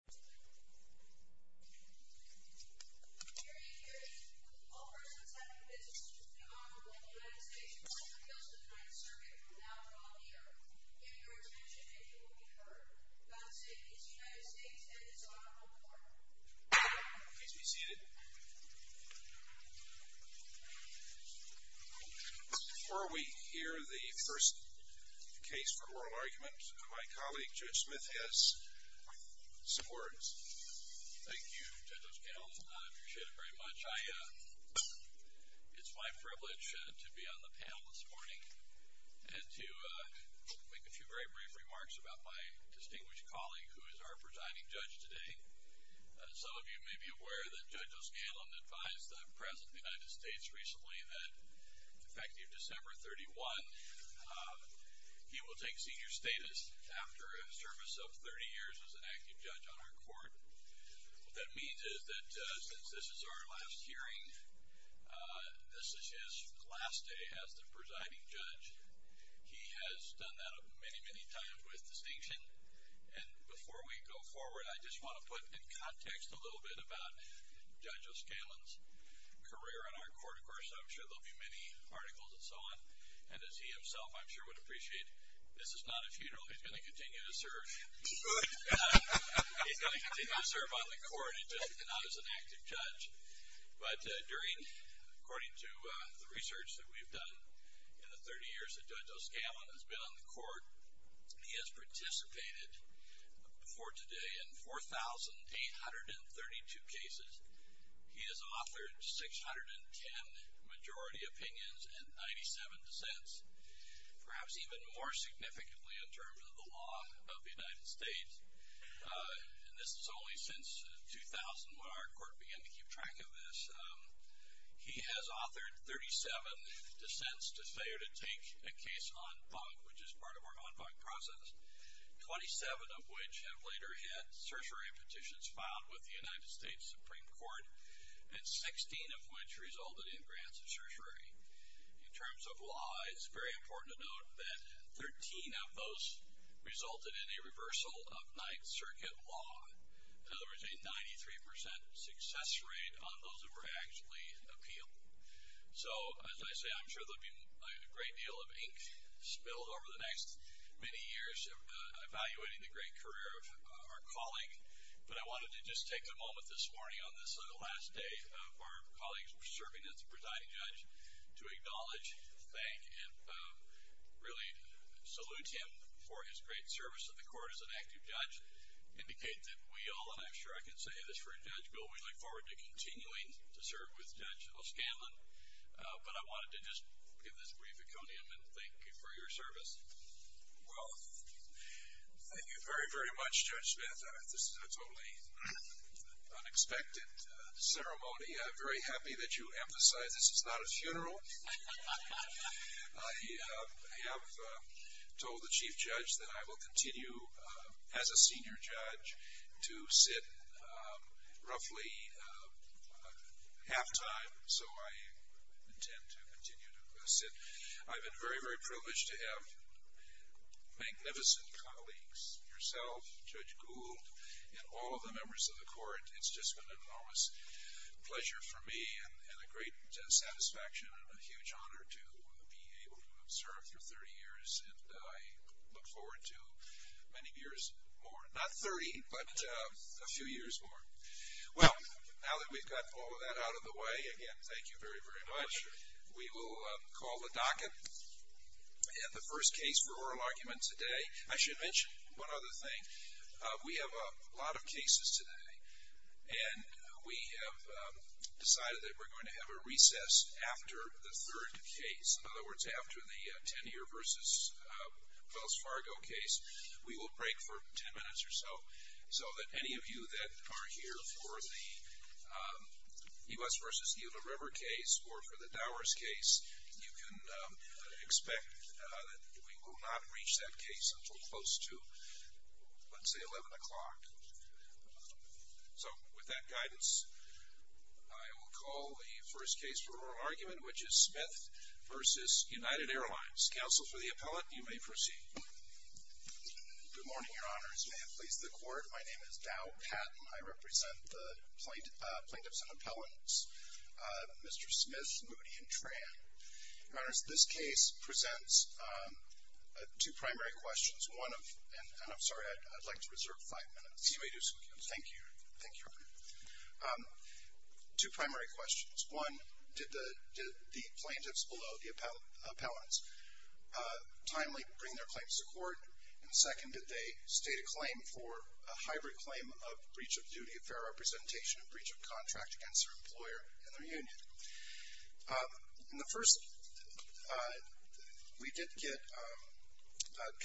All persons having business with the Honorable in the United States or individuals of the Ninth Circuit from now until the end of the year, give your attention and you will be heard. God save these United States and this Honorable Court. Please be seated. Before we hear the first case for oral argument, my colleague Judge Smith has some words. Thank you, Judge O'Skell. I appreciate it very much. It's my privilege to be on the panel this morning and to make a few very brief remarks about my distinguished colleague who is our presiding judge today. Some of you may be aware that Judge O'Skell advised the President of the United States recently that effective December 31, he will take senior status after a service of 30 years as an active judge on our court. What that means is that since this is our last hearing, this is his last day as the presiding judge. He has done that many, many times with distinction. Before we go forward, I just want to put in context a little bit about Judge O'Skell's career on our court. Of course, I'm sure there will be many articles and so on. As he himself, I'm sure would appreciate, this is not a funeral. He's going to continue to serve. He's going to continue to serve on the court and not as an active judge. But during, according to the research that we've done in the 30 years that Judge O'Skell has been on the court, he has participated before today in 4,832 cases. He has authored 610 majority opinions and 97 dissents, perhaps even more significantly in terms of the law of the United States. This is only since 2000 when our court began to keep track of this. He has authored 37 dissents to failure to take a case en banc, which is part of our en banc process, 27 of which have later had certiorari petitions filed with the United States Supreme Court, and 16 of which resulted in grants of certiorari. In terms of law, it's very important to note that 13 of those resulted in a reversal of Ninth Circuit law. In other words, a 93% success rate on those that were actually appealed. So, as I say, I'm sure there will be a great deal of ink spilled over the next many years evaluating the great career of our colleague. But I wanted to just take a moment this morning on this last day of our colleague serving as presiding judge to acknowledge, thank, and really salute him for his great service to the court as an active judge, indicate that we all, and I'm sure I can say this for a judge, Bill, we look forward to continuing to serve with Judge O'Scanlan, but I wanted to just give this brief aconium and thank you for your service. Well, thank you very, very much, Judge Smith. This is a totally unexpected ceremony. I'm very happy that you emphasized this is not a funeral. I have told the chief judge that I will continue as a senior judge to sit roughly halftime, so I intend to continue to sit. I've been very, very privileged to have magnificent colleagues, yourself, Judge Gould, and all of the members of the court. It's just been an enormous pleasure for me and a great satisfaction and a huge honor to be able to serve for 30 years, and I look forward to many years more. Not 30, but a few years more. Well, now that we've got all of that out of the way, again, thank you very, very much. We will call the docket. And the first case for oral argument today, I should mention one other thing. We have a lot of cases today, and we have decided that we're going to have a recess after the third case, in other words, after the Tenier v. Wells Fargo case. We will break for 10 minutes or so, so that any of you that are here for the Yves v. Gila River case or for the Dowers case, you can expect that we will not reach that case until close to, let's say, 11 o'clock. So with that guidance, I will call the first case for oral argument, which is Smith v. United Airlines. Counsel for the appellant, you may proceed. Good morning, Your Honors. May it please the Court. My name is Dow Patton. I represent the plaintiffs and appellants, Mr. Smith, Moody, and Tran. Your Honors, this case presents two primary questions. One of, and I'm sorry, I'd like to reserve five minutes. You may do so, Counsel. Thank you. Thank you, Your Honor. Two primary questions. One, did the plaintiffs below the appellants timely bring their claims to court? And second, did they state a claim for a hybrid claim of breach of duty of fair representation and breach of contract against their employer and their union? In the first, we did get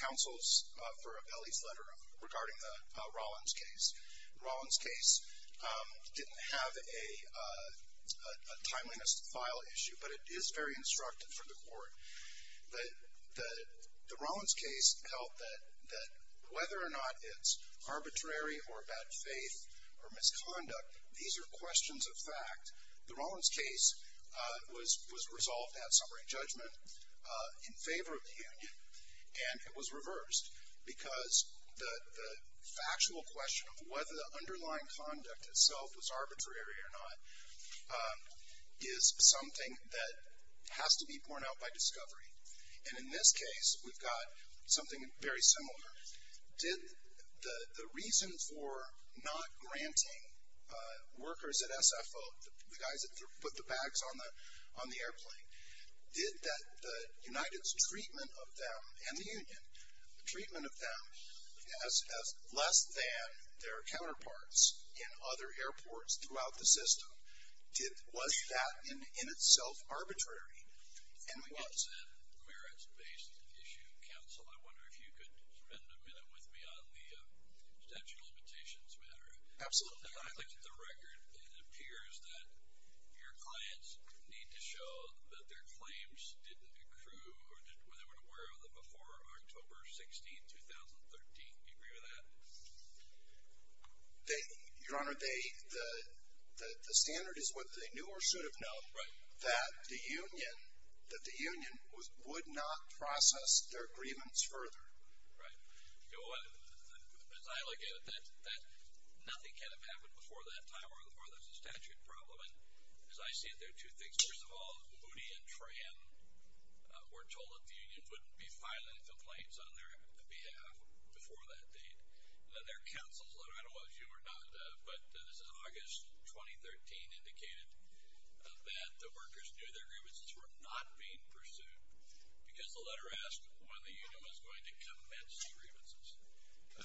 counsel's for appellee's letter regarding the Rollins case. The Rollins case didn't have a timeliness file issue, but it is very instructive for the court. The Rollins case held that whether or not it's arbitrary or bad faith or misconduct, these are questions of fact. The Rollins case was resolved at summary judgment in favor of the union, and it was reversed because the factual question of whether the underlying conduct itself was arbitrary or not is something that has to be borne out by discovery. And in this case, we've got something very similar. The reason for not granting workers at SFO, the guys that put the bags on the airplane, did the United's treatment of them and the union, the treatment of them as less than their counterparts in other airports throughout the system, was that in itself arbitrary? While it's a merits-based issue, counsel, I wonder if you could spend a minute with me on the statute of limitations matter. Absolutely. The record, it appears that your clients need to show that their claims didn't accrue or they weren't aware of it before October 16, 2013. Do you agree with that? Your Honor, the standard is what they knew or should have known. Right. That the union would not process their grievance further. Right. As I look at it, nothing can have happened before that time or before there's a statute problem. And as I see it, there are two things. First of all, Moody and Tran were told that the union wouldn't be filing complaints on their behalf before that date. And then their counsel's letter, I don't know whether it was you or not, but this is August 2013, indicated that the workers knew their grievances were not being pursued because the letter asked when the union was going to commence the grievances.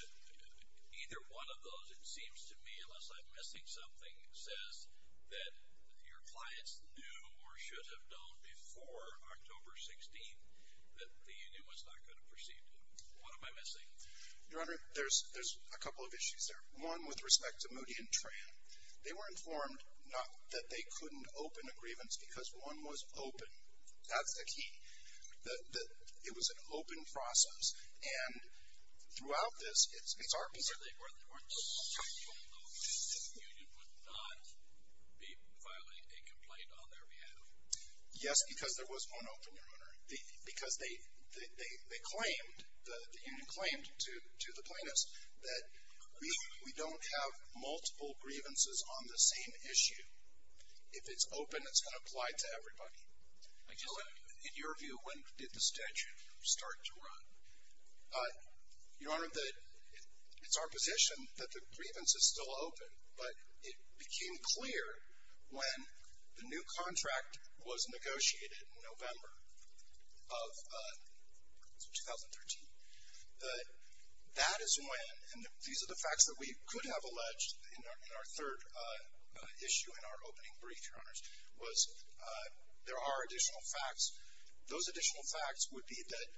Either one of those, it seems to me, unless I'm missing something, says that your clients knew or should have known before October 16 that the union was not going to proceed. What am I missing? Your Honor, there's a couple of issues there. One with respect to Moody and Tran. They were informed that they couldn't open a grievance because one was open. That's the key. It was an open process. And throughout this, it's our position. So they weren't told that the union would not be filing a complaint on their behalf? Yes, because there was one open, Your Honor. Because they claimed, the union claimed to the plaintiffs, that we don't have multiple grievances on the same issue. If it's open, it's going to apply to everybody. In your view, when did the statute start to run? Your Honor, it's our position that the grievance is still open, but it became clear when the new contract was negotiated in November. Of 2013. That is when, and these are the facts that we could have alleged in our third issue in our opening brief, Your Honors, was there are additional facts. Those additional facts would be that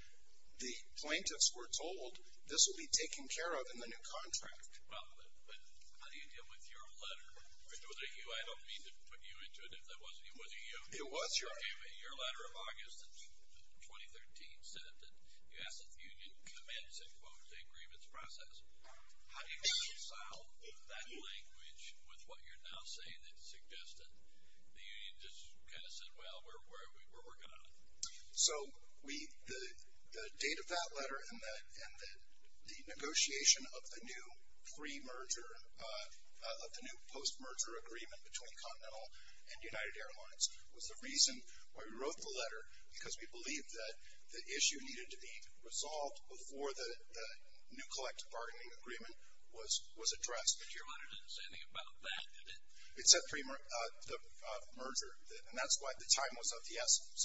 the plaintiffs were told, this will be taken care of in the new contract. Well, but how do you deal with your letter? Was it you? I don't mean to put you into it. It wasn't you. It was you. Your letter of August of 2013 said that the U.S. Union commenced, in quotes, the grievance process. How do you reconcile that language with what you're now saying that suggested the union just kind of said, well, we're working on it? So the date of that letter and the negotiation of the new pre-merger, of the new post-merger agreement between Continental and United Airlines was the reason why we wrote the letter, because we believed that the issue needed to be resolved before the new collective bargaining agreement was addressed. But your letter didn't say anything about that, did it? It said the merger, and that's why the time was of the essence.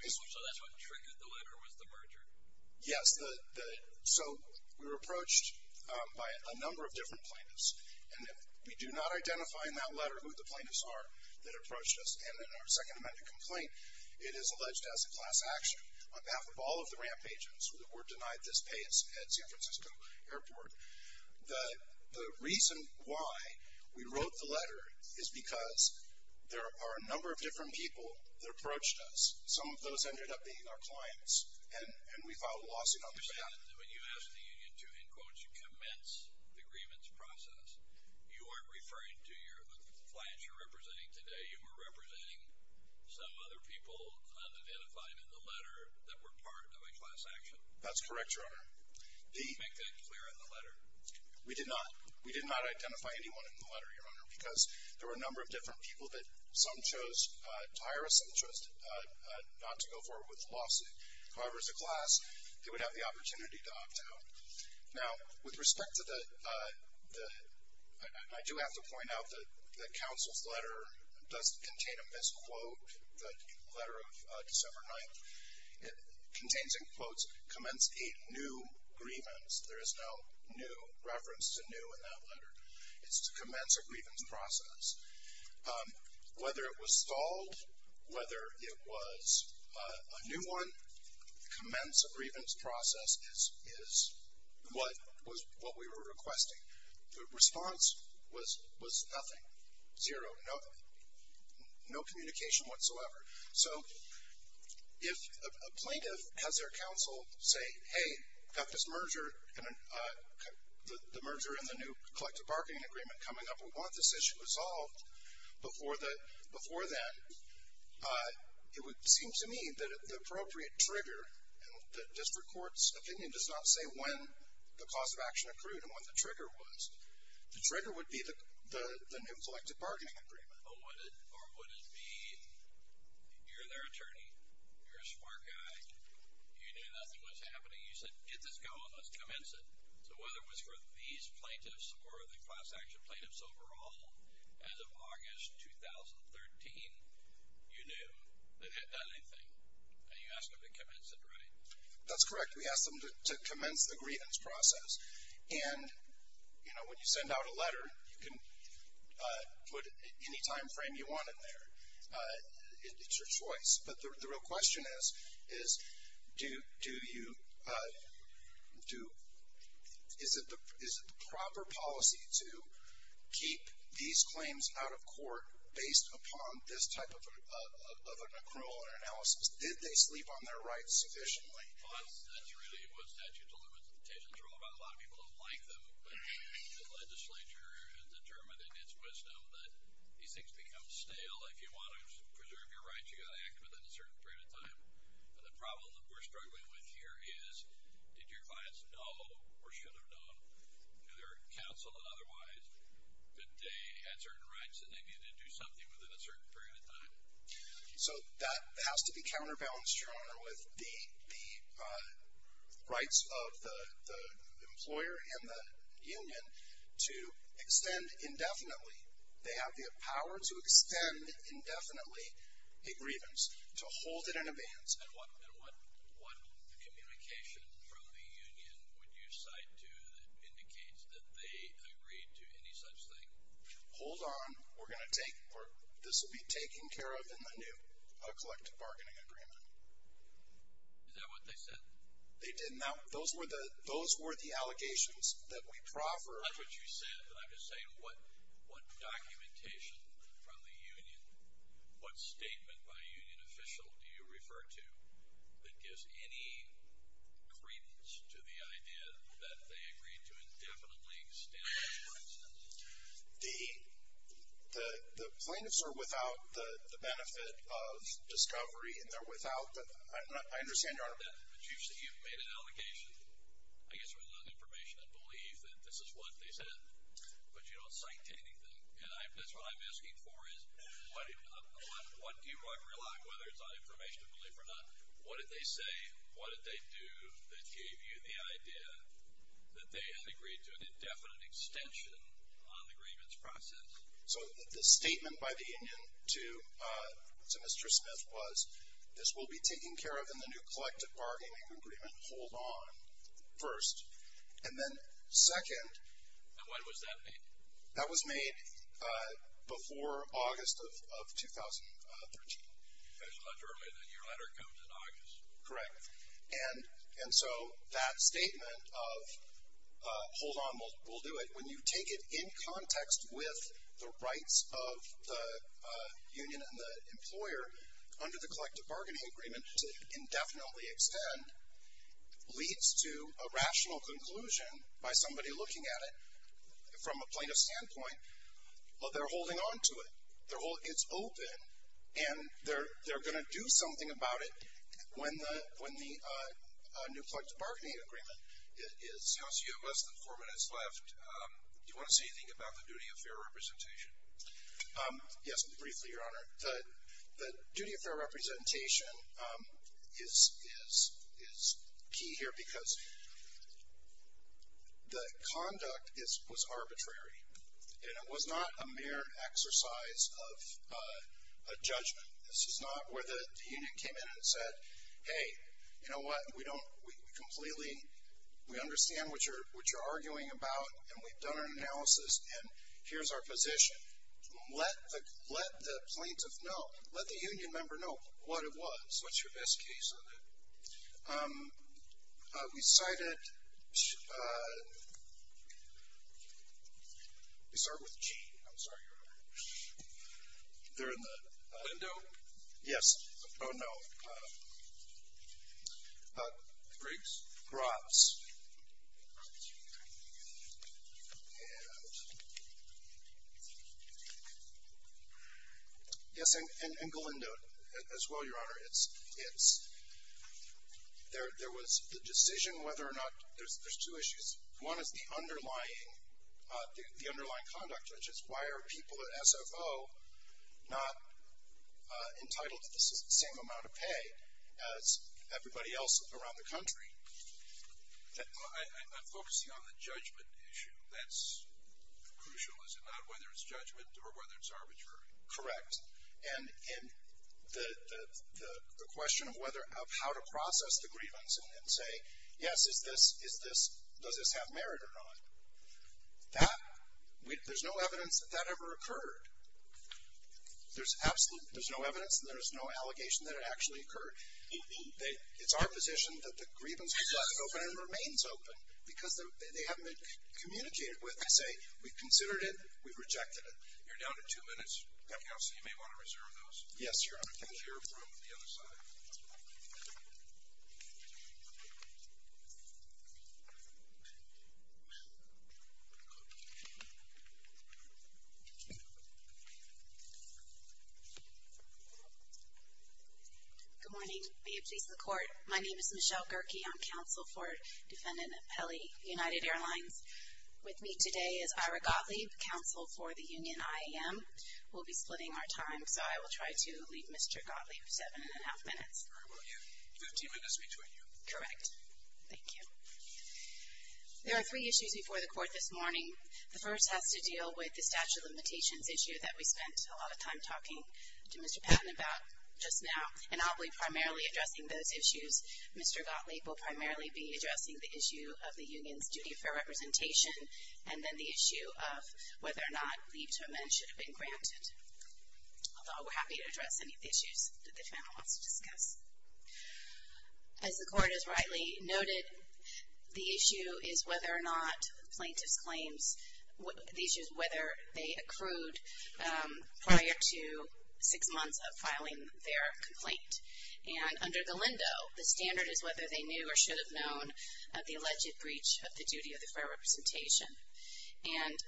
So that's what triggered the letter was the merger? Yes. So we were approached by a number of different plaintiffs, and we do not identify in that letter who the plaintiffs are that in our second amendment complaint it is alleged to have some class action. On behalf of all of the ramp agents, we're denied this pay at San Francisco Airport. The reason why we wrote the letter is because there are a number of different people that approached us. Some of those ended up being our clients, and we filed a lawsuit on them. I understand that when you ask the union to, in quotes, commence the grievance process, you aren't referring to the clients you're representing today. You were representing some other people unidentified in the letter that were part of a class action. That's correct, Your Honor. Did you make that clear in the letter? We did not. We did not identify anyone in the letter, Your Honor, because there were a number of different people that some chose to hire us, some chose not to go forward with the lawsuit. However, as a class, they would have the opportunity to opt out. Now, with respect to the – I do have to point out that the counsel's letter does contain a misquote, the letter of December 9th. It contains in quotes, commence a new grievance. There is no new reference to new in that letter. It's to commence a grievance process. Whether it was stalled, whether it was a new one, commence a grievance process is what we were requesting. The response was nothing, zero, no communication whatsoever. So if a plaintiff has their counsel say, hey, I've got this merger, the merger and the new collective bargaining agreement coming up, we want this issue resolved before then, it would seem to me that the appropriate trigger, and the district court's opinion does not say when the cause of action accrued and when the trigger was. The trigger would be the new collective bargaining agreement. Or would it be you're their attorney, you're a smart guy, you knew nothing was happening, you said get this going, let's commence it. So whether it was for these plaintiffs or the class action plaintiffs overall, as of August 2013, you knew they hadn't done anything. And you asked them to commence it, right? That's correct. We asked them to commence the grievance process. And, you know, when you send out a letter, you can put any time frame you want in there. It's your choice. But the real question is, is it the proper policy to keep these claims out of court based upon this type of an accrual or analysis? Did they sleep on their rights sufficiently? Well, that's really what statutes of limitations are all about. A lot of people don't like them. But the legislature has determined in its wisdom that these things become stale. If you want to preserve your rights, you've got to act within a certain period of time. And the problem that we're struggling with here is, did your clients know or should have known, either counsel and otherwise, that they had certain rights and they needed to do something within a certain period of time? So that has to be counterbalanced, Your Honor, with the rights of the employer and the union to extend indefinitely. They have the power to extend indefinitely a grievance, to hold it in advance. And what communication from the union would you cite to that indicates that they agreed to any such thing? Hold on. We're going to take this will be taken care of in the new collective bargaining agreement. Is that what they said? They did not. Those were the allegations that we proffered. That's not what you said, but I'm just saying what documentation from the union, what statement by a union official do you refer to, that gives any credence to the idea that they agreed to indefinitely extend this grievance? The plaintiffs are without the benefit of discovery. I understand, Your Honor. But you've made an allegation, I guess with enough information and belief, that this is what they said, but you don't cite to anything. And that's what I'm asking for is what do you rely on, whether it's on information and belief or not. What did they say, what did they do, that gave you the idea that they had agreed to an indefinite extension on the grievance process? So the statement by the union to Mr. Smith was, this will be taken care of in the new collective bargaining agreement. Hold on, first. And then second. And when was that made? That was made before August of 2013. That's much earlier than your letter comes in August. Correct. And so that statement of hold on, we'll do it, when you take it in context with the rights of the union and the employer, under the collective bargaining agreement, to indefinitely extend leads to a rational conclusion by somebody looking at it from a plaintiff's standpoint. Well, they're holding on to it. It's open. And they're going to do something about it when the new collective bargaining agreement is. Counsel, you have less than four minutes left. Do you want to say anything about the duty of fair representation? Yes, briefly, Your Honor. The duty of fair representation is key here because the conduct was arbitrary, and it was not a mere exercise of judgment. This is not where the union came in and said, hey, you know what? We completely understand what you're arguing about, and we've done an analysis, and here's our position. Let the plaintiff know, let the union member know what it was. What's your best case of it? We cited, we start with G. I'm sorry, Your Honor. They're in the window? Yes. Oh, no. Briggs? Brotts? And? Yes, and Galindo as well, Your Honor. It's, there was the decision whether or not, there's two issues. One is the underlying, the underlying conduct, which is why are people at SFO not entitled to the same amount of pay as everybody else around the country? I'm focusing on the judgment issue. That's crucial, is it not, whether it's judgment or whether it's arbitrary? Correct. And the question of whether, of how to process the grievance and say, yes, is this, is this, does this have merit or not? That, there's no evidence that that ever occurred. There's absolute, there's no evidence and there's no allegation that it actually occurred. It's our position that the grievance was left open and remains open because they haven't been communicated with to say, we've considered it, we've rejected it. You're down to two minutes, counsel. You may want to reserve those. Yes, Your Honor. We'll hear from the other side. Good morning. May it please the Court. My name is Michelle Gerke. I'm counsel for Defendant Pelli, United Airlines. With me today is Ira Gottlieb, counsel for the Union IAM. We'll be splitting our time, so I will try to leave Mr. Gottlieb seven and a half minutes. All right. We'll give you 15 minutes between you. Correct. Thank you. There are three issues before the Court this morning. The first has to deal with the statute of limitations issue that we spent a lot of time talking to Mr. Patton about just now, and I'll be primarily addressing those issues. Mr. Gottlieb will primarily be addressing the issue of the union's duty for representation and then the issue of whether or not leaves to amend should have been granted. Although we're happy to address any of the issues that the defendant wants to discuss. As the Court has rightly noted, the issue is whether or not plaintiff's claims, the issue is whether they accrued prior to six months of filing their complaint. And under Galindo, the standard is whether they knew or should have known of the alleged breach of the duty of the fair representation. And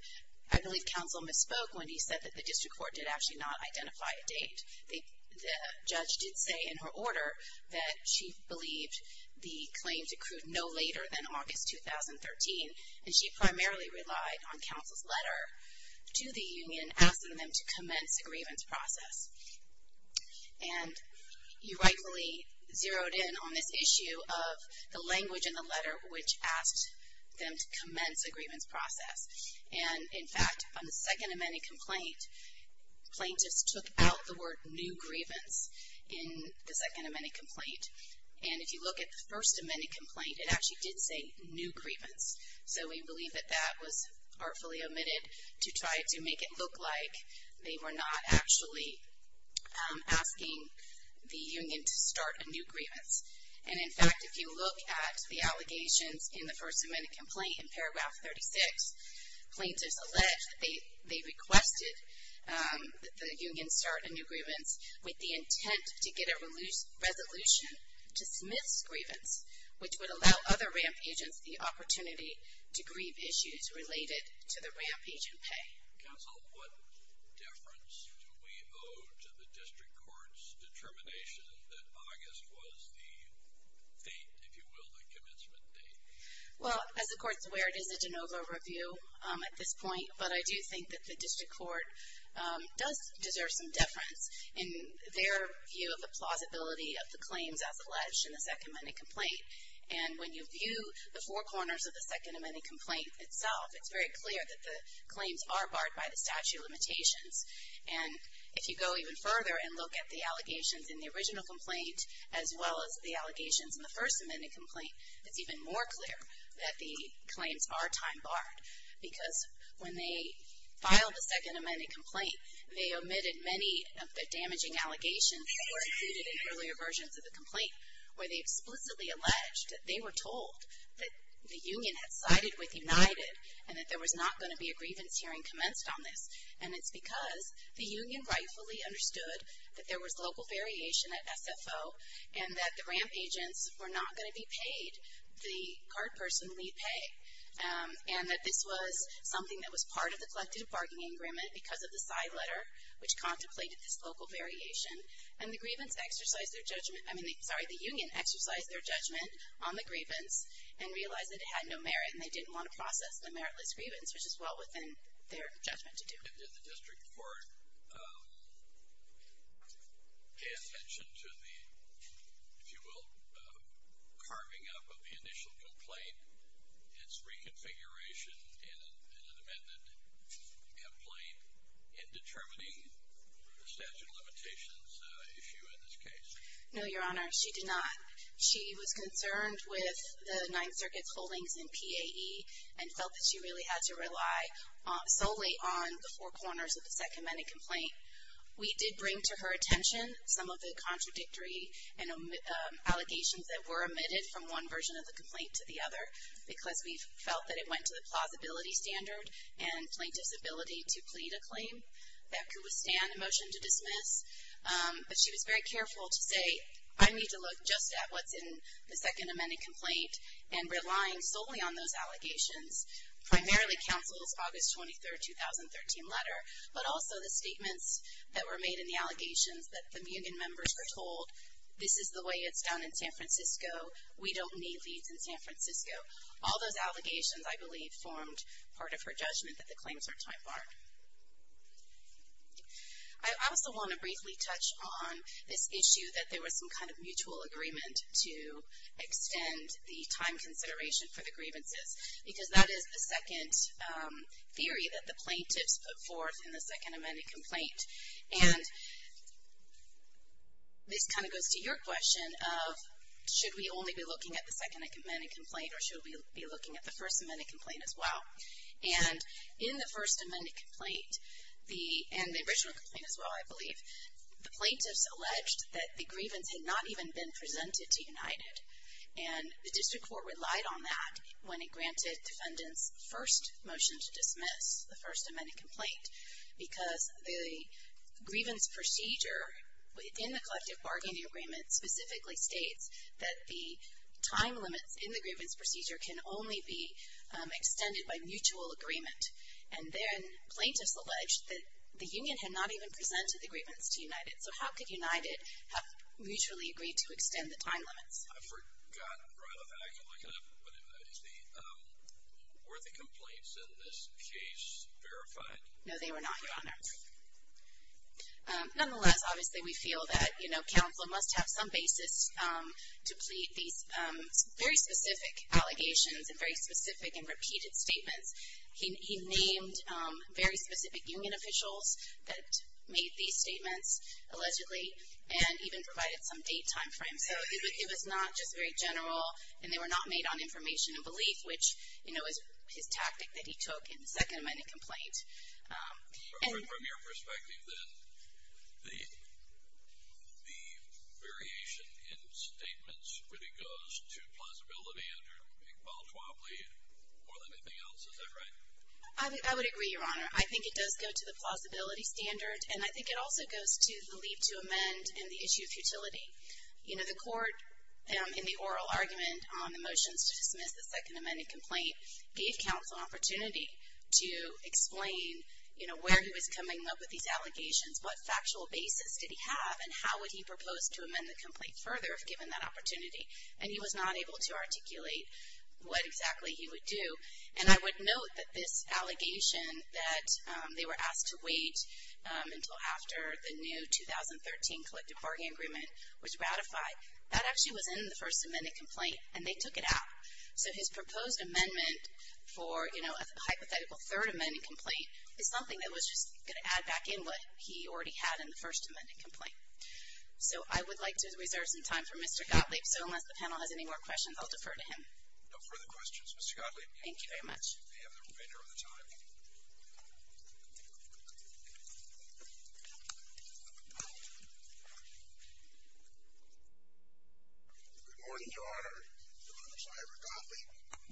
I believe counsel misspoke when he said that the district court did actually not identify a date. The judge did say in her order that she believed the claims accrued no later than August 2013, and she primarily relied on counsel's letter to the union asking them to commence a grievance process. And you rightfully zeroed in on this issue of the language in the letter which asked them to commence a grievance process. And, in fact, on the second amended complaint, plaintiffs took out the word new grievance in the second amended complaint. And if you look at the first amended complaint, it actually did say new grievance. So we believe that that was artfully omitted to try to make it look like they were not actually asking the union to start a new grievance. And, in fact, if you look at the allegations in the first amended complaint in paragraph 36, plaintiffs allege that they requested that the union start a new grievance with the intent to get a resolution to dismiss grievance, which would allow other RAMP agents the opportunity to grieve issues related to the RAMP agent pay. Counsel, what difference do we owe to the district court's determination that August was the date, if you will, the commencement date? Well, as the court's aware, it is a de novo review at this point, but I do think that the district court does deserve some deference in their view of the plausibility of the claims as alleged in the second amended complaint. And when you view the four corners of the second amended complaint itself, it's very clear that the claims are barred by the statute of limitations. And if you go even further and look at the allegations in the original complaint, as well as the allegations in the first amended complaint, it's even more clear that the claims are time barred. Because when they filed the second amended complaint, they omitted many of the damaging allegations in earlier versions of the complaint, where they explicitly alleged that they were told that the union had sided with United and that there was not going to be a grievance hearing commenced on this. And it's because the union rightfully understood that there was local variation at SFO and that the RAMP agents were not going to be paid the card person lead pay. And that this was something that was part of the collective bargaining agreement because of the side letter, which contemplated this local variation. And the grievance exercised their judgment. I mean, sorry, the union exercised their judgment on the grievance and realized that it had no merit and they didn't want to process the meritless grievance, which is well within their judgment to do. Did the district court pay attention to the, if you will, carving up of the initial complaint, its reconfiguration in an amended complaint in determining the statute of limitations issue in this case? No, Your Honor. She did not. She was concerned with the Ninth Circuit holdings in PAE and felt that she really had to rely solely on the four corners of the second amended complaint. We did bring to her attention some of the contradictory allegations that were omitted from one version of the complaint to the other because we felt that it went to the plausibility standard and plaintiff's ability to plead a claim that could withstand a motion to dismiss. But she was very careful to say, I need to look just at what's in the second amended complaint and relying solely on those allegations, primarily counsel's August 23, 2013 letter, but also the statements that were made in the allegations that the union members were told, this is the way it's done in San Francisco. We don't need these in San Francisco. All those allegations, I believe, formed part of her judgment that the claims are time-barred. I also want to briefly touch on this issue that there was some kind of mutual agreement to extend the time consideration for the grievances because that is the second theory that the plaintiffs put forth in the second amended complaint. And this kind of goes to your question of should we only be looking at the second amended complaint or should we be looking at the first amended complaint as well? And in the first amended complaint and the original complaint as well, I believe, the plaintiffs alleged that the grievance had not even been presented to United. And the district court relied on that when it granted defendants first motion to dismiss the first amended complaint because the grievance procedure within the collective bargaining agreement specifically states that the time limits in the grievance procedure can only be extended by mutual agreement. And then plaintiffs alleged that the union had not even presented the grievance to United. So how could United have mutually agreed to extend the time limits? I forgot right off the bat. Were the complaints in this case verified? No, they were not, Your Honor. Nonetheless, obviously, we feel that, you know, counsel must have some basis to plead these very specific allegations and very specific and repeated statements. He named very specific union officials that made these statements allegedly and even provided some date timeframe. So it was not just very general and they were not made on information and belief, which, you know, is his tactic that he took in the second amended complaint. From your perspective, then, the variation in statements really goes to plausibility or anything else. Is that right? I would agree, Your Honor. I think it does go to the plausibility standard. And I think it also goes to the leave to amend and the issue of futility. You know, the court in the oral argument on the motions to dismiss the second amended complaint gave counsel an opportunity to explain, you know, where he was coming up with these allegations, what factual basis did he have, and how would he propose to amend the complaint further if given that opportunity. And he was not able to articulate what exactly he would do. And I would note that this allegation that they were asked to wait until after the new 2013 collective bargaining agreement was ratified, that actually was in the first amended complaint and they took it out. So his proposed amendment for, you know, a hypothetical third amended complaint is something that was just going to add back in what he already had in the first amended complaint. So I would like to reserve some time for Mr. Gottlieb. So unless the panel has any more questions, I'll defer to him. No further questions, Mr. Gottlieb. Thank you very much. We have the remainder of the time. Good morning, Your Honor. My name is Ira Gottlieb.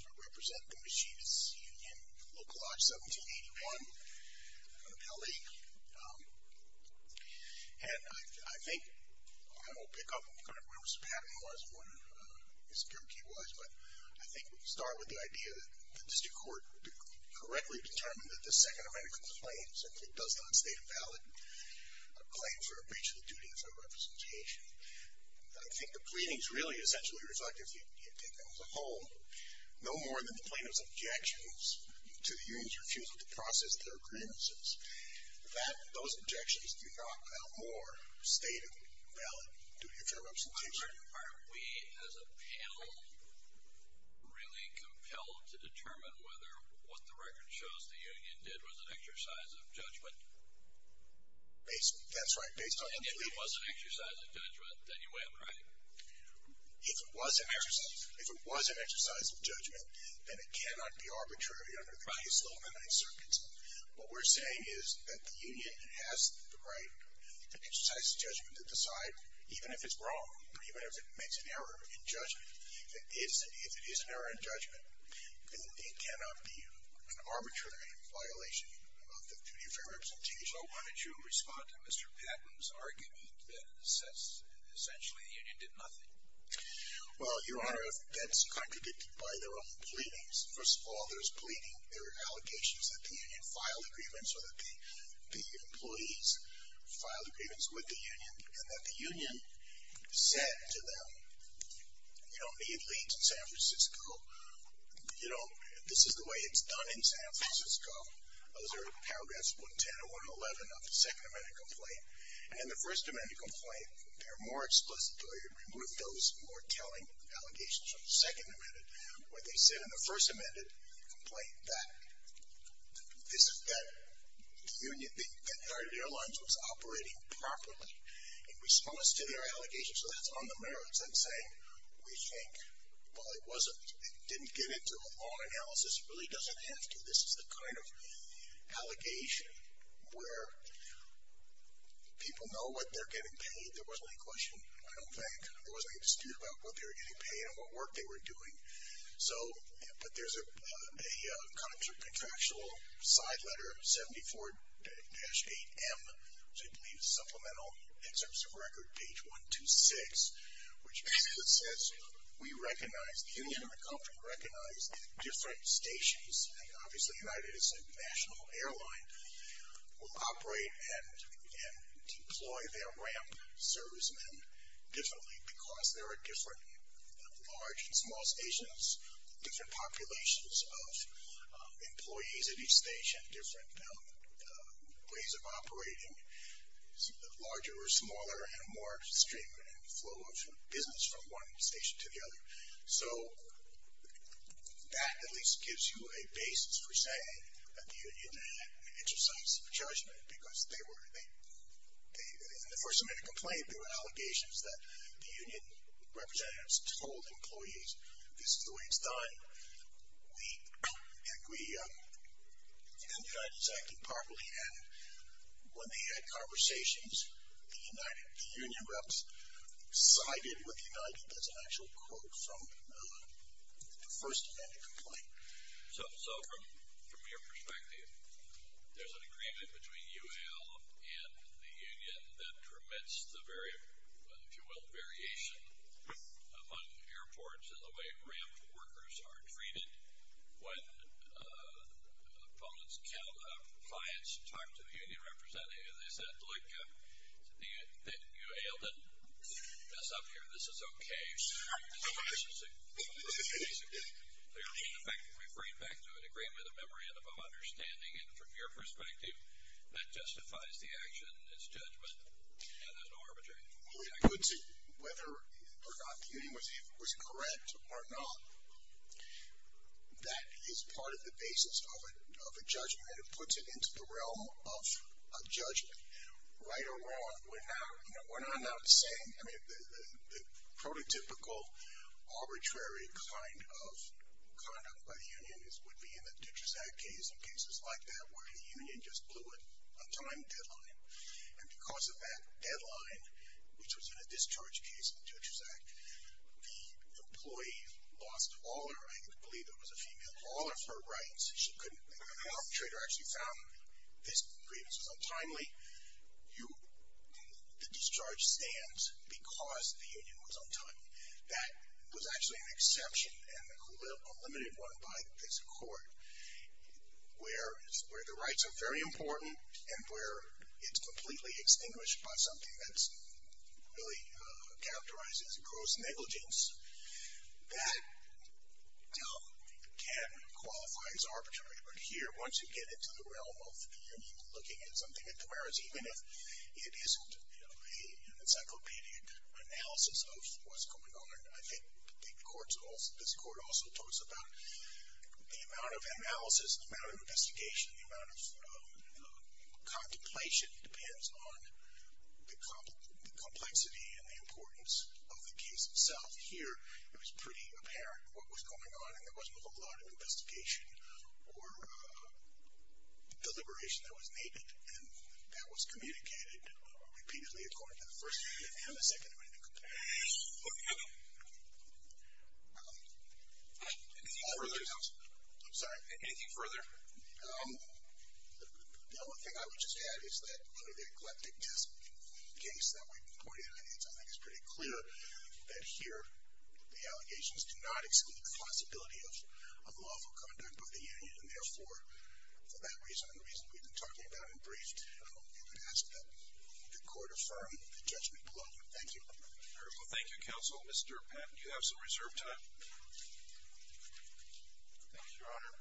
I represent the Machinists Union Local Lodge 1781 in L.A. And I think I will pick up kind of where Mr. Patton was, where Mr. Kierkegaard was, but I think we can start with the idea that the district court correctly determined that this second amended complaint simply does not state a valid claim for a breach of the duty of federal representation. I think the pleadings really essentially reflect, if you take them as a whole, no more than the plaintiff's objections to the union's refusal to process their grievances. Those objections do not, no more, state a valid duty of federal representation. Are we, as a panel, really compelled to determine whether what the record shows the union did was an exercise of judgment? That's right. Based on the pleadings. And if it was an exercise of judgment, then you win, right? If it was an exercise of judgment, then it cannot be arbitrary under the case law What we're saying is that the union has the right to exercise judgment to decide even if it's wrong, or even if it makes an error in judgment. If it is an error in judgment, then it cannot be an arbitrary violation of the duty of federal representation. So why don't you respond to Mr. Patton's argument that essentially the union did nothing? Well, Your Honor, that's contradicted by their own pleadings. First of all, there are allegations that the union filed grievance, or that the employees filed grievance with the union, and that the union said to them, you don't need leads in San Francisco. You know, this is the way it's done in San Francisco. Those are paragraphs 110 and 111 of the Second Amendment complaint. And in the First Amendment complaint, they're more explicit. They remove those more telling allegations from the Second Amendment. When they said in the First Amendment complaint that the union, that United Airlines was operating properly in response to their allegations. So that's on the merits. I'm saying we think, well, it didn't get into a law analysis. It really doesn't have to. This is the kind of allegation where people know what they're getting paid. There wasn't any question, I don't think. There wasn't any dispute about what they were getting paid and what work they were doing. So, but there's a contractual side letter, 74-8M, which I believe is supplemental in terms of record, page 126, which basically says we recognize, the union and the company recognize different stations. Obviously, United is a national airline. We'll operate and deploy their ramp servicemen differently because there are different large and small stations, different populations of employees at each station, different ways of operating, larger or smaller, and more stream and flow of business from one station to the other. So that at least gives you a basis for saying that the union had an exercise of judgment because they were, in the first time they complained, there were allegations that the union representatives told employees, this is the way it's done, and United is acting properly. And when they had conversations, the union reps sided with United. That's an actual quote from the first time they complained. So from your perspective, there's an agreement between UAL and the union that permits the very, if you will, variation among airports and the way ramp workers are treated when clients talk to the union representative and they said, look, UAL didn't mess up here. This is okay. So this is basically clear. In effect, we bring it back to an agreement of memory and of understanding. And from your perspective, that justifies the action, this judgment, and an arbitration. Well, it puts it, whether or not the union was correct or not, that is part of the basis of a judgment. And it puts it into the realm of a judgment. Right or wrong, we're not allowed to say. I mean, the prototypical arbitrary kind of conduct by the union would be in the Dutchess Act case and cases like that where the union just blew a time deadline. And because of that deadline, which was in a discharge case in the Dutchess Act, the employee lost all her, I believe it was a female, all of her rights. The arbitrator actually found this grievance was untimely. The discharge stands because the union was untimely. That was actually an exception and a limited one by this court where the rights are very important and where it's completely extinguished by something that really characterizes gross negligence that can qualify as arbitrary. But here, once you get into the realm of the union looking at something, whereas even if it isn't an encyclopedic analysis of what's going on, I think this court also talks about the amount of analysis, the amount of investigation, the amount of contemplation depends on the complexity and the importance of the case itself. Here, it was pretty apparent what was going on, and there wasn't a whole lot of investigation or deliberation that was needed, and that was communicated repeatedly according to the first amendment and the second amendment. Okay. Anything further? I'm sorry? Anything further? The only thing I would just add is that under the eclectic desk case that we reported on, I think it's pretty clear that here the allegations do not exclude the possibility of unlawful conduct by the union, and therefore, for that reason and the reason we've been talking about in brief, we would ask that the court affirm the judgment below you. Thank you. All right. Well, thank you, counsel. Mr. Patton, you have some reserve time. Thank you, Your Honor.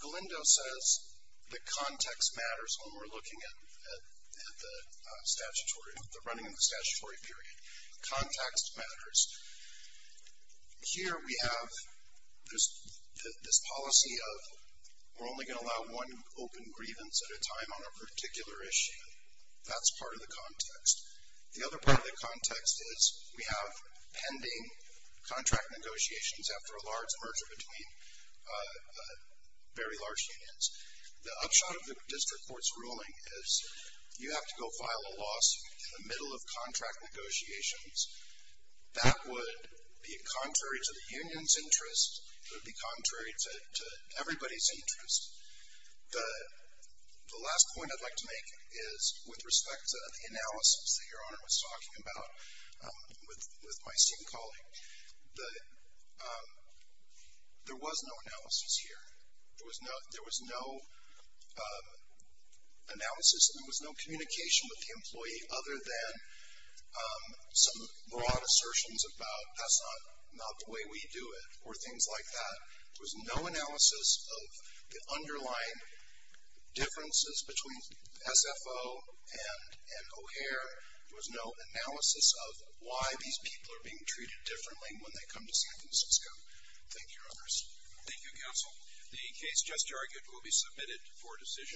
Galindo says the context matters when we're looking at the running of the statutory period. Context matters. Here we have this policy of we're only going to allow one open grievance at a time on a particular issue. That's part of the context. The other part of the context is we have pending contract negotiations after a large merger between very large unions. The upshot of the district court's ruling is you have to go file a loss in the middle of contract negotiations. That would be contrary to the union's interests. It would be contrary to everybody's interests. The last point I'd like to make is with respect to the analysis that Your Honor was talking about with my esteemed colleague, there was no analysis here. There was no analysis and there was no communication with the employee other than some broad assertions about that's not the way we do it or things like that. There was no analysis of the underlying differences between SFO and O'Hare. There was no analysis of why these people are being treated differently when they come to San Francisco. Thank you, Your Honors. Thank you, Counsel. The case just argued will be submitted for decision.